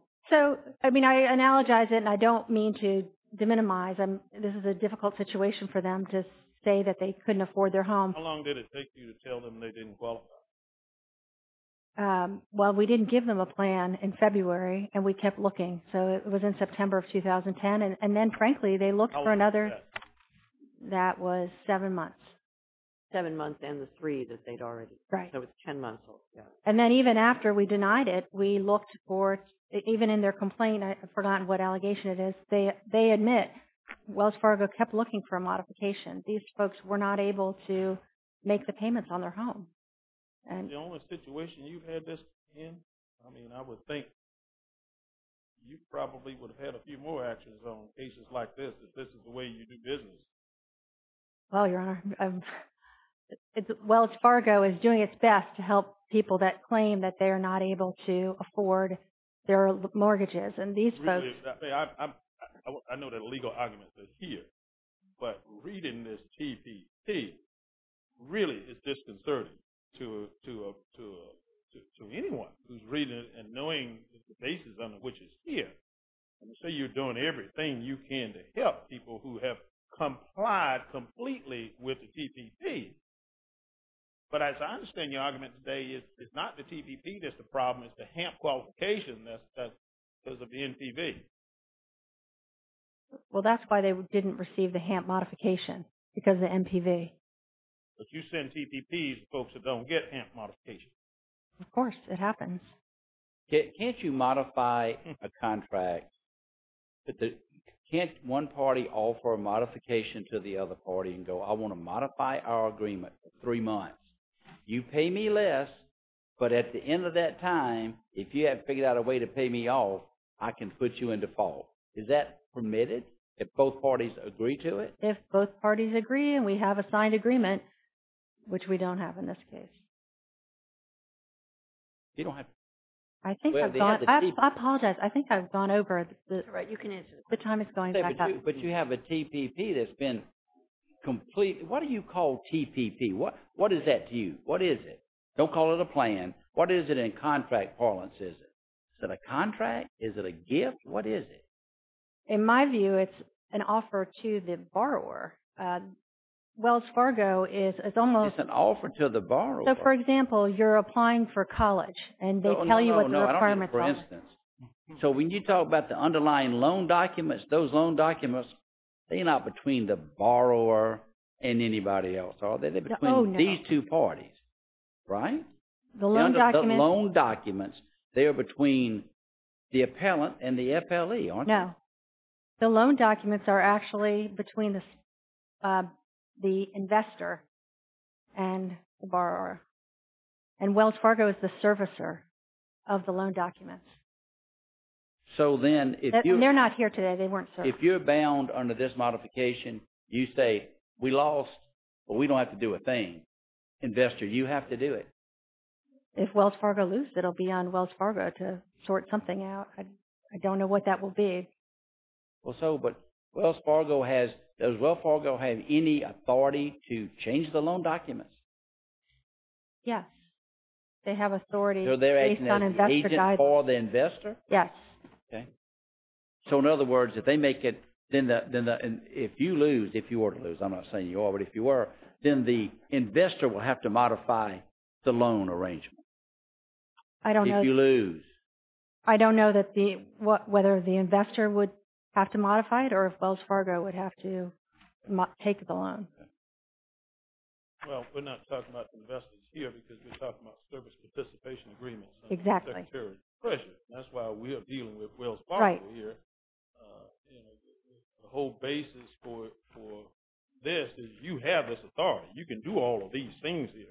I mean, I analogize it, and I don't mean to de-minimize. This is a difficult situation for them to say that they couldn't afford their home. How long did it take you to tell them they didn't qualify? Well, we didn't give them a plan in February, and we kept looking. So, it was in September of 2010, and then, frankly, they looked for another... How long was that? That was seven months. Seven months and the three that they'd already... Right. So, it's 10 months old. And then, even after we denied it, we looked for, even in their complaint, I've forgotten what allegation it is. They admit Wells Fargo kept looking for a modification. These folks were not able to make the payments on their home. The only situation you've had this in? I mean, I would think you probably would have had a few more actions on cases like this, if this is the way you do business. Well, Your Honor, Wells Fargo is doing its best to help people that claim that they are not able to afford their mortgages, and these folks... I know that legal arguments are here, but reading this TPP really is disconcerting to anyone who's reading it and knowing the basis under which it's here. Let's say you're doing everything you can to help people who have complied completely with the TPP, but as I understand your argument today, it's not the TPP that's the problem, it's the HAMP qualification and that's because of the NPV. Well, that's why they didn't receive the HAMP modification, because of the NPV. But you send TPPs to folks that don't get HAMP modification. Of course, it happens. Can't you modify a contract? Can't one party offer a modification to the other party and go, I want to modify our agreement for three months. You pay me less, but at the end of that time, if you haven't figured out a way to pay me off, I can put you in default. Is that permitted if both parties agree to it? If both parties agree and we have a signed agreement, which we don't have in this case. You don't have to. I think I've gone, I apologize, I think I've gone over the time it's going back up. But you have a TPP that's been complete, what do you call TPP? What is that to you? What is it? Don't call it a plan. What is it in contract parlance? Is it a contract? Is it a gift? What is it? In my view, it's an offer to the borrower. Wells Fargo is almost... It's an offer to the borrower. So, for example, you're applying for college and they tell you what the requirements are. No, no, no. I don't mean for instance. So, when you talk about the underlying loan documents, those loan documents, they're not between the borrower and anybody else, are they? They're between these two parties. Right? The loan documents... The loan documents, they are between the appellant and the FLE, aren't they? No. The loan documents are actually between the investor and the borrower. And Wells Fargo is the servicer of the loan documents. So then, if you... They're not here today, they weren't serviced. If you're bound under this modification, you say, we lost, but we don't have to do a thing. Investor, you have to do it. If Wells Fargo loses, it'll be on Wells Fargo to sort something out. I don't know what that will be. Well, so, but Wells Fargo has... Does Wells Fargo have any authority Yes. They have authority based on investor guidance. So, they're acting as an agent for the investor? Yes. Okay. So, in other words, if they make it, then if you lose, if you were to lose, I'm not saying you are, but if you were, then the investor will have to modify the loan arrangement. I don't know... If you lose. I don't know that the... whether the investor would have to modify it, or if Wells Fargo would have to take the loan. Okay. Well, we're not talking about the investors here because we're talking about service participation agreements. Exactly. That's why we're dealing with Wells Fargo here. Right. The whole basis for this is you have this authority. You can do all of these things here.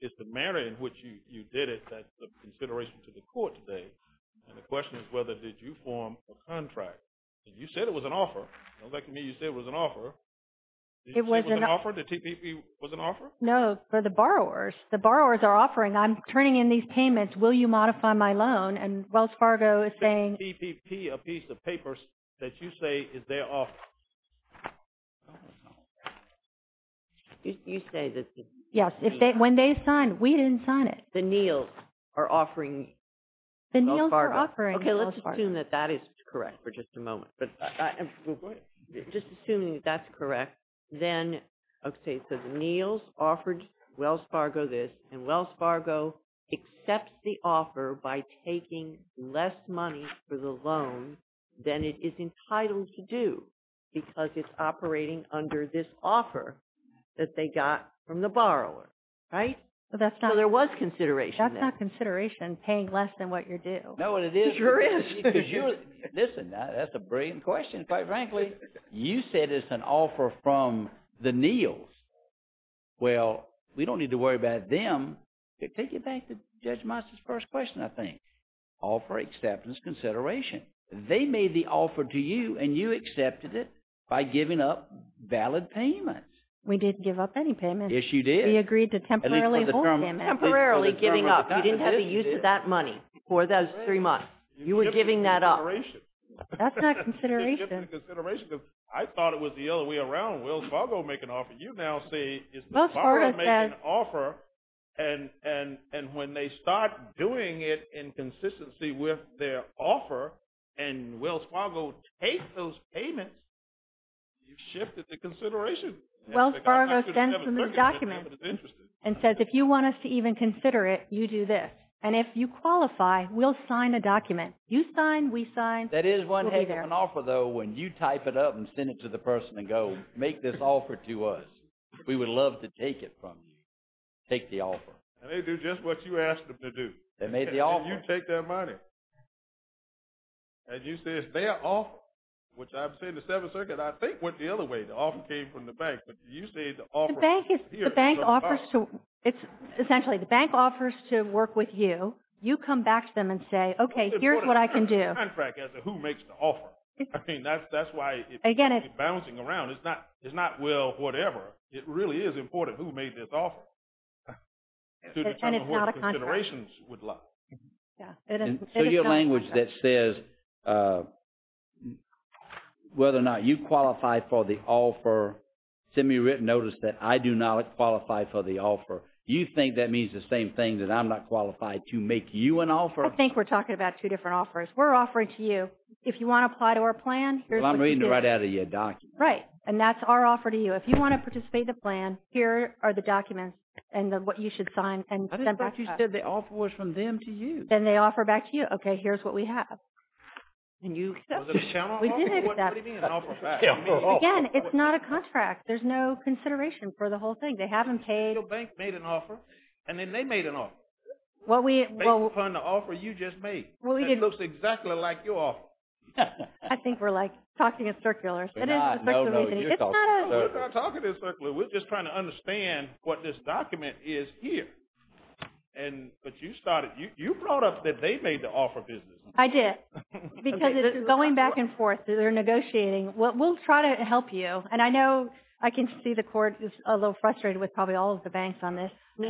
It's the manner in which you did it that's of consideration to the court today. And the question is whether did you form a contract? And you said it was an offer. It looks like to me you said it was an offer. Did you say it was an offer? The TPP was an offer? No, for the borrowers. The borrowers are offering, I'm turning in these payments, will you modify my loan? And Wells Fargo is saying... Is the TPP a piece of paper that you say is their offer? I don't know. You say that... Yes, when they signed, we didn't sign it. The Neals are offering... The Neals are offering... Okay, let's assume that that is correct for just a moment. But just assuming that's correct, then, okay, so the Neals offered Wells Fargo this and Wells Fargo accepts the offer by taking less money for the loan than it is entitled to do because it's operating under this offer that they got from the borrower. Right? So there was consideration there. That's not consideration, paying less than what you're due. No, but it is... It sure is. Listen, that's a brilliant question. Quite frankly, you said it's an offer from the Neals. Well, we don't need to worry about them. Take it back to Judge Moss's first question, I think. Offer acceptance consideration. They made the offer to you and you accepted it by giving up valid payments. We didn't give up any payments. Yes, you did. We agreed to temporarily hold payments. Temporarily giving up. You didn't have to use that money for those three months. You were giving that up. That's not consideration. That's not consideration because I thought it was the other way around. Wells Fargo make an offer. You now say, is Wells Fargo making an offer and when they start doing it in consistency with their offer and Wells Fargo take those payments, you've shifted the consideration. Wells Fargo sends them this document and says, if you want us to even consider it, you do this. And if you qualify, we'll sign a document. You sign, we sign. That is one heck of an offer though when you type it up and send it to the person and go, make this offer to us. We would love to take it from you. Take the offer. And they do just what you asked them to do. They made the offer. And you take their money. And you say, it's their offer, which I'm saying the Seventh Circuit, I think, went the other way. The offer came from the bank. But you say the offer... The bank is... The bank offers to... Essentially, the bank offers to work with you. You come back to them and say, okay, here's what I can do. ...contract as to who makes the offer. I mean, that's why... Again, it's... ...it's bouncing around. It's not, well, whatever. It really is important who made this offer. And it's not a contract. ...considerations would love. Yeah. So your language that says whether or not you qualify for the offer, send me a written notice that I do not qualify for the offer. You think that means the same thing that I'm not qualified to make you an offer? I think we're talking about two different offers. We're offering to you, if you want to apply to our plan, here's what you do. Well, I'm reading it right out of your document. Right. And that's our offer to you. If you want to participate in the plan, here are the documents and what you should sign and send back to us. I didn't think you said the offer was from them to you. Then they offer back to you. Okay, here's what we have. And you... Was it a channel offer? We did accept. What do you mean an offer back? Again, it's not a contract. There's no consideration for the whole thing. They haven't paid... Your bank made an offer and then they made an offer. What we... Based upon the offer you just made. Well, we didn't... It looks exactly like your offer. I think we're, like, talking in circulars. No, no. It's not a... We're not talking in circulars. We're just trying to understand what this document is here. And, but you started... You brought up that they made the offer business. I did. Because it's going back and forth. They're negotiating. We'll try to help you. And I know I can see the court is a little frustrated with probably all of the banks on this. We'll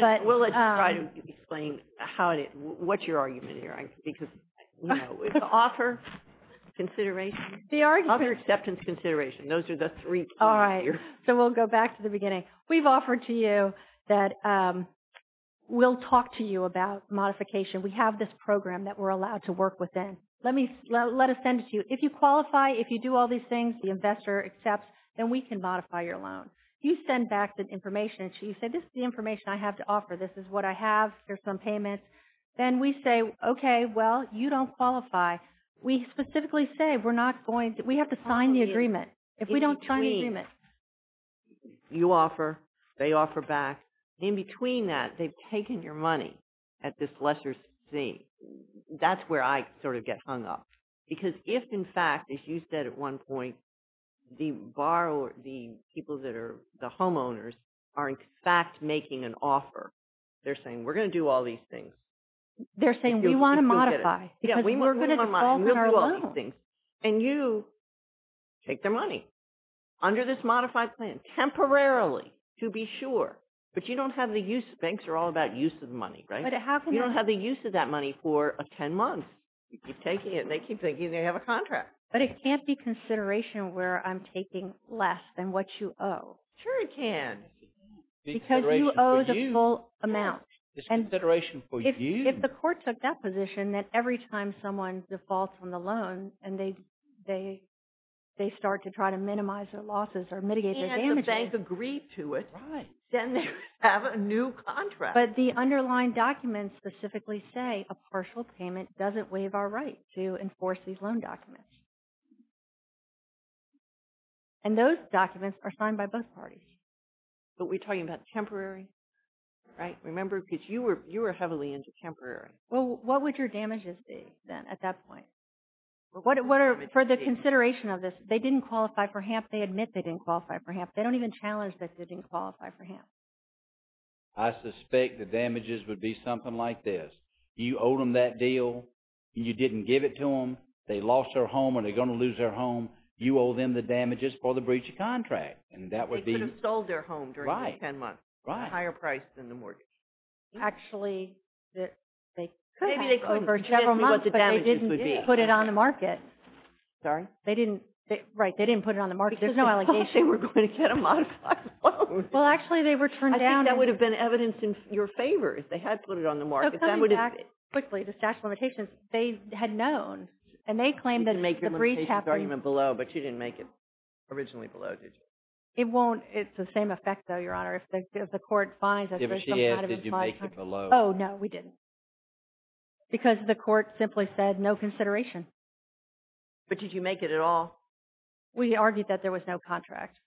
try to explain how it is... What's your argument here? Because, you know, it's offer, consideration. The argument... Offer, acceptance, consideration. Those are the three... All right. So we'll go back to the beginning. We've offered to you that we'll talk to you about modification. We have this program that we're allowed to work within. Let me... Let us send it to you. If you qualify, if you do all these things the investor accepts, then we can modify your loan. You send back the information and she said, this is the information I have to offer. This is what I have. There's some payments. Then we say, okay, well, you don't qualify. If we don't sign the agreement... It's between. You offer. They offer back. We don't sign the agreement. It's between. It's between. It's between. You offer back. In between that, they've taken your money at this lesser thing. That's where I sort of get hung up. Because if in fact, as you said at one point, the borrower, the people that are the homeowners are in fact making an offer. They're saying, we're going to do all these things. They're saying, we want to modify. Yeah, we want to modify. Because we're going to default on our loan. We'll do all these things. And you take their money under this modified plan, temporarily to be sure. But you don't have the use. Banks are all about use of the money, right? You don't have the use of that money for 10 months. You keep taking it, and they keep thinking they have a contract. But it can't be consideration where I'm taking less than what you owe. Sure it can. Because you owe the full amount. It's consideration for you. If the court took that position, that every time someone defaults on the loan, and they start to try to minimize their losses or mitigate their damages... And the bank agreed to it. Right. Then they have a new contract. But the underlying documents specifically say, a partial payment doesn't waive our right to enforce these loan documents. And those documents are signed by both parties. But we're talking about temporary, right? Remember, because you were heavily into temporary. Well, what would your damages be, then, at that point? For the consideration of this, they didn't qualify for HAMP. They admit they didn't qualify for HAMP. They don't even challenge that they didn't qualify for HAMP. I suspect the damages would be something like this. You owe them that deal. You didn't give it to them. They lost their home or they're going to lose their home. You owe them the damages for the breach of contract. And that would be... They could have sold their home during those 10 months. Right. At a higher price than the mortgage. Actually, they could have for several months. But they didn't put it on the market. Sorry? They didn't... Right, they didn't put it on the market. There's no allegation. I thought they were going to get a modified loan. Well, actually, they were turned down. I think that would have been evidence in your favor if they had put it on the market. So, coming back quickly to statute of limitations, they had known. And they claimed that the breach happened... You didn't make your limitations argument below, but you didn't make it originally below, did you? It won't... It's the same effect, though, Your Honor. If the court finds that there's some kind of... If she is, did you make it below? Oh, no, we didn't. Because the court simply said, no consideration. But did you make it at all? We argued that there was no contract.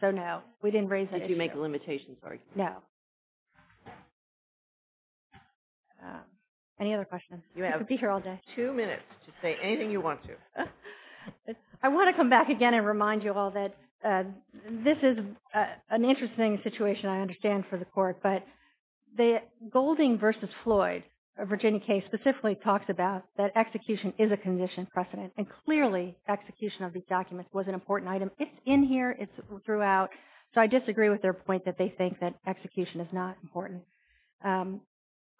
So, no, we didn't raise it. Did you make a limitations argument? No. Any other questions? You could be here all day. You have two minutes to say anything you want to. I want to come back again and remind you all that this is an interesting situation, I understand, for the court. But the Golding v. Floyd, a Virginia case, specifically talks about that execution is a condition precedent. And clearly, execution of these documents was an important item. It's in here. It's throughout. So, I disagree with their point that they think that execution is not important.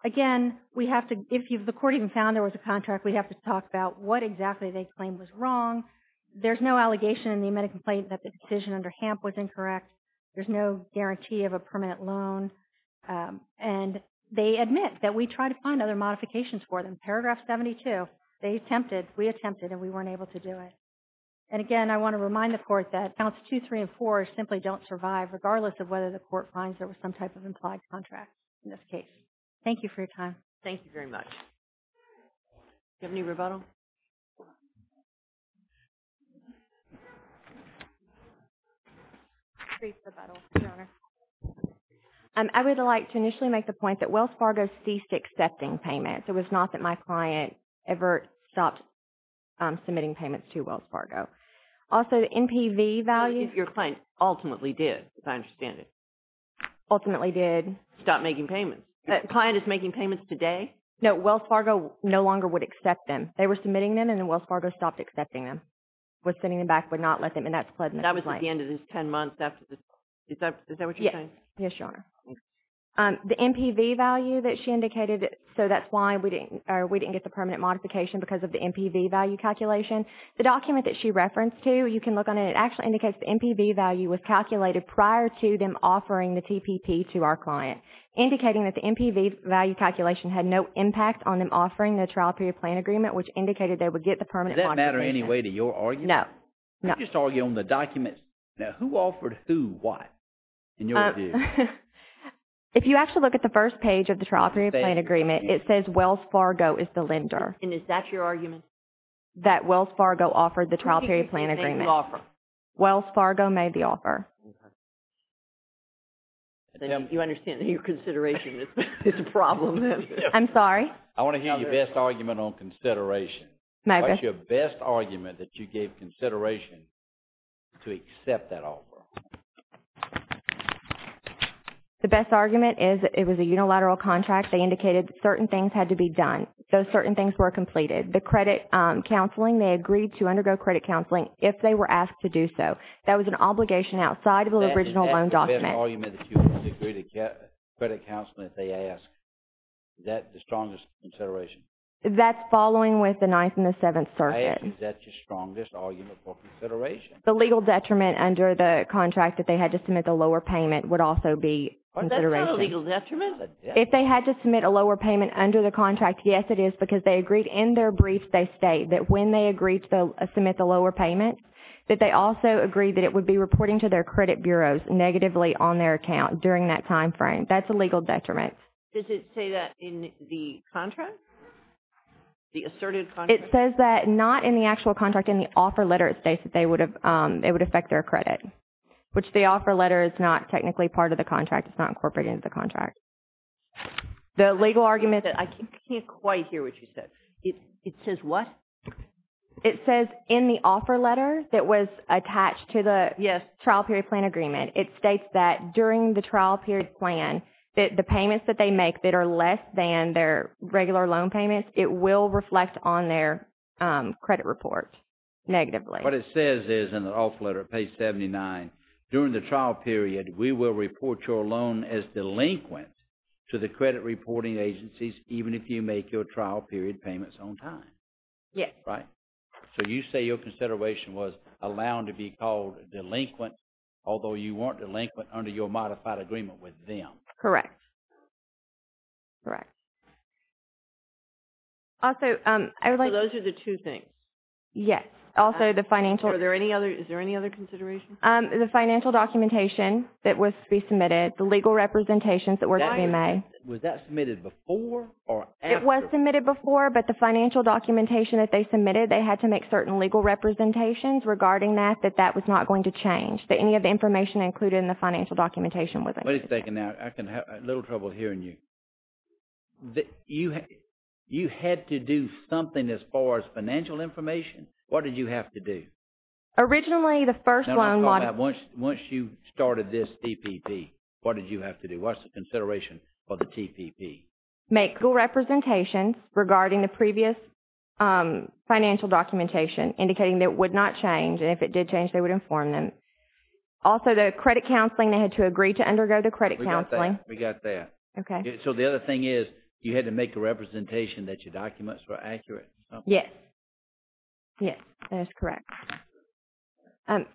Again, we have to... If the court even found there was a contract, we have to talk about what exactly they claim was wrong. There's no allegation in the amended complaint that the decision under HAMP was incorrect. There's no guarantee of a permanent loan. And they admit that we try to find other modifications for them. Paragraph 72, they attempted, we attempted, and we weren't able to do it. And again, I want to remind the court that counts 2, 3, and 4 simply don't survive regardless of whether the court finds there was some type of implied contract in this case. Thank you for your time. Thank you very much. Do you have any rebuttal? Rebuttal, Your Honor. I would like to initially make the point that Wells Fargo ceased accepting payments. It was not that my client ever stopped submitting payments to Wells Fargo. Also, the NPV value. Your client ultimately did, as I understand it. Ultimately did. Stopped making payments. That client is making payments today? No, Wells Fargo no longer would accept them. They were submitting them and then Wells Fargo stopped accepting them, was sending them back, would not let them, and that's pledged in the claim. That was at the end of this 10 months after the, is that what you're saying? Yes, Your Honor. The NPV value that she indicated, so that's why we didn't, get the permanent modification because of the NPV value calculation. The document that she referenced to, you can look on it, it actually indicates the NPV value was calculated prior to them offering the TPP to our client. Indicating that the NPV value calculation had no impact on them offering the trial period plan agreement, which indicated they would get the permanent modification. Does that matter anyway to your argument? No. I'm just arguing on the document. Now, who offered who what in your view? If you actually look at the first page of the trial period plan agreement, it says Wells Fargo is the lender. And is that your argument? That Wells Fargo offered the trial period plan agreement. Who do you think made the offer? Wells Fargo made the offer. Then you understand that your consideration is the problem then. I'm sorry? I want to hear your best argument on consideration. What's your best argument that you gave consideration to accept that offer? The best argument is it was a unilateral contract. They indicated certain things had to be done. Those certain things were completed. The credit counseling, they agreed to undergo credit counseling if they were asked to do so. That was an obligation outside of the original loan document. Is that the best argument that you would agree to get credit counseling if they asked? Is that the strongest consideration? That's following with the Ninth and the Seventh Circuits. Is that your strongest argument for consideration? The legal detriment under the contract that they had to submit the lower payment would also be consideration. Is that a legal detriment? If they had to submit a lower payment under the contract, yes, it is because they agreed in their brief they state that when they agreed to submit the lower payment that they also agreed that it would be reporting to their credit bureaus negatively on their account during that time frame. That's a legal detriment. Does it say that in the contract? The asserted contract? It says that not in the actual contract. In the offer letter it states that it would affect their credit which the offer letter is not technically part of the contract. It's not incorporated into the contract. The legal argument that I can't quite hear what you said. It says what? It says in the offer letter that was attached to the trial period plan agreement it states that during the trial period plan that the payments that they make that are less than their regular loan payments it will reflect on their credit report negatively. What it says is in the offer letter page 79 during the trial period we will report your loan as delinquent to the credit reporting agencies even if you make your trial period payments on time. Yes. Right. So you say your consideration was allowing to be called delinquent although you weren't delinquent under your modified agreement with them. Correct. Correct. Also I would like to So those are the two things? Yes. Also the financial Are there any other is there any other considerations? The financial documentation that was to be submitted the legal representations that were to be made Was that submitted before or after? It was submitted before but the financial documentation that they submitted they had to make certain legal representations regarding that that that was not going to change. Any of the information included in the financial documentation wasn't going to change. Wait a second now I'm having a little trouble hearing you. You had to do something as far as financial information? What did you have to do? Originally the first loan Now let's talk about once you started this DPP What did you have to do? What's the consideration for the TPP? Make legal representations regarding the previous financial documentation indicating that it would not change and if it did change they would inform them. Also the credit counseling they had to agree to undergo the credit counseling. We got that. We got that. Okay. So the other thing is you had to make a representation that your documents were accurate. Yes. Yes. That is correct. And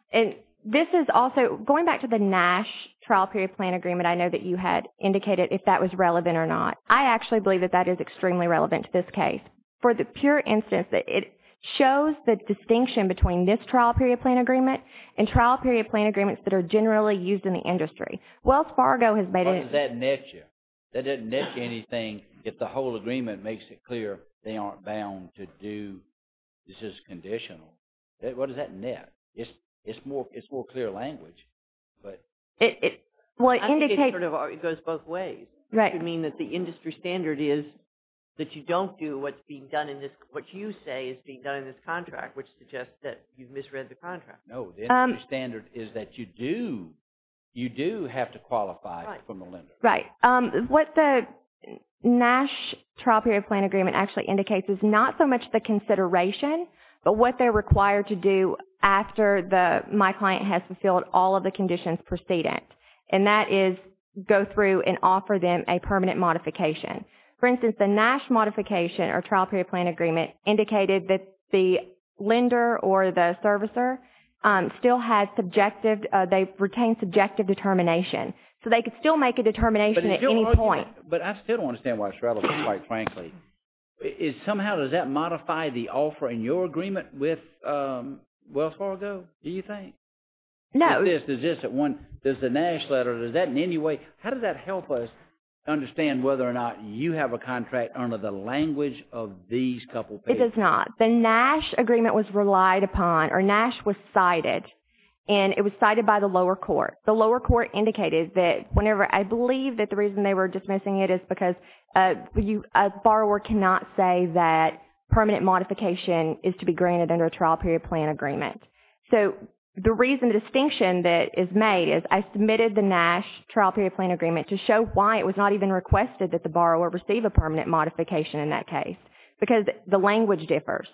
this is also going back to the trial period plan agreement I know that you had indicated if that was relevant or not. I actually believe that that is extremely relevant to this case. For the pure instance that it shows the distinction between this trial period plan agreement and trial period plan agreements that are generally used in the industry. Wells Fargo has made it What does that net you? That doesn't net you anything if the whole agreement makes it clear they aren't bound to do this is conditional. What does that net? It's more it's more clear language. But I think it sort of goes both ways. Right. It could mean that the industry standard is that you don't do what's being done in this what you say is being done in this contract which suggests that you've misread the contract. No. The industry standard is that you do you do have to qualify for the lender. Right. What the NASH trial period plan agreement actually indicates is not so much the consideration but what they're required to do after the my client has fulfilled all of the conditions precedent. And that is go through and offer them a permanent modification. For instance, the NASH modification or trial period plan agreement indicated that the lender or the servicer still has subjective they retain subjective determination. So they can still make a determination at any point. But I still don't understand why it's relevant quite frankly. Is somehow does that modify the offer in your agreement with Wells Fargo do you think? No. Does this at one does the NASH letter does that in any way how does that help us understand whether or not you have a contract under the language of these couple papers? It does not. The NASH agreement was relied upon or NASH was cited and it was cited by the lower court. The lower court indicated that whenever I believe that the reason they were dismissing it is because you a borrower cannot say that permanent modification is to be granted under a trial period plan agreement. So the reason the distinction that is made is I submitted the NASH trial period plan agreement to show why it was not even requested that the borrower receive a permanent modification in that case. Because the language differs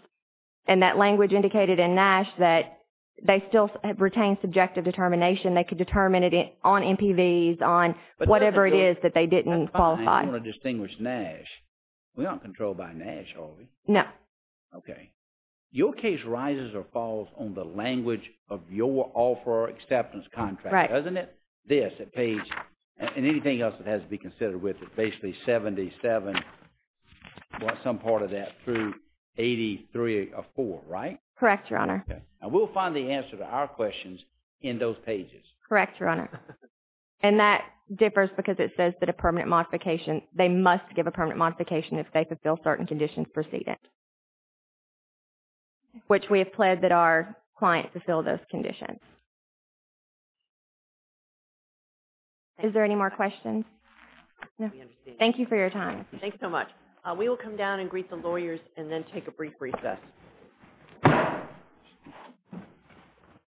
and that language indicated in NASH that they still retain subjective determination. They could determine it on MPVs on whatever it is that they didn't qualify. I want to distinguish NASH. We aren't going to make a case that rises or falls on the language of your offeror acceptance contract. Right. Doesn't it? This, that page and anything else that has to be considered with it. Basically 77 or some part of that through 83 or 4, right? Correct, Your Honor. Okay. And we'll find the answer to our questions in those pages. Correct, Your Honor. And that differs because it says that a permanent modification if they fulfill certain conditions preceded, which we have pled that our client fulfill those conditions. Is there any more questions? No. Thank you for your time. Thank you so much. We will come down and greet the lawyers and then take a brief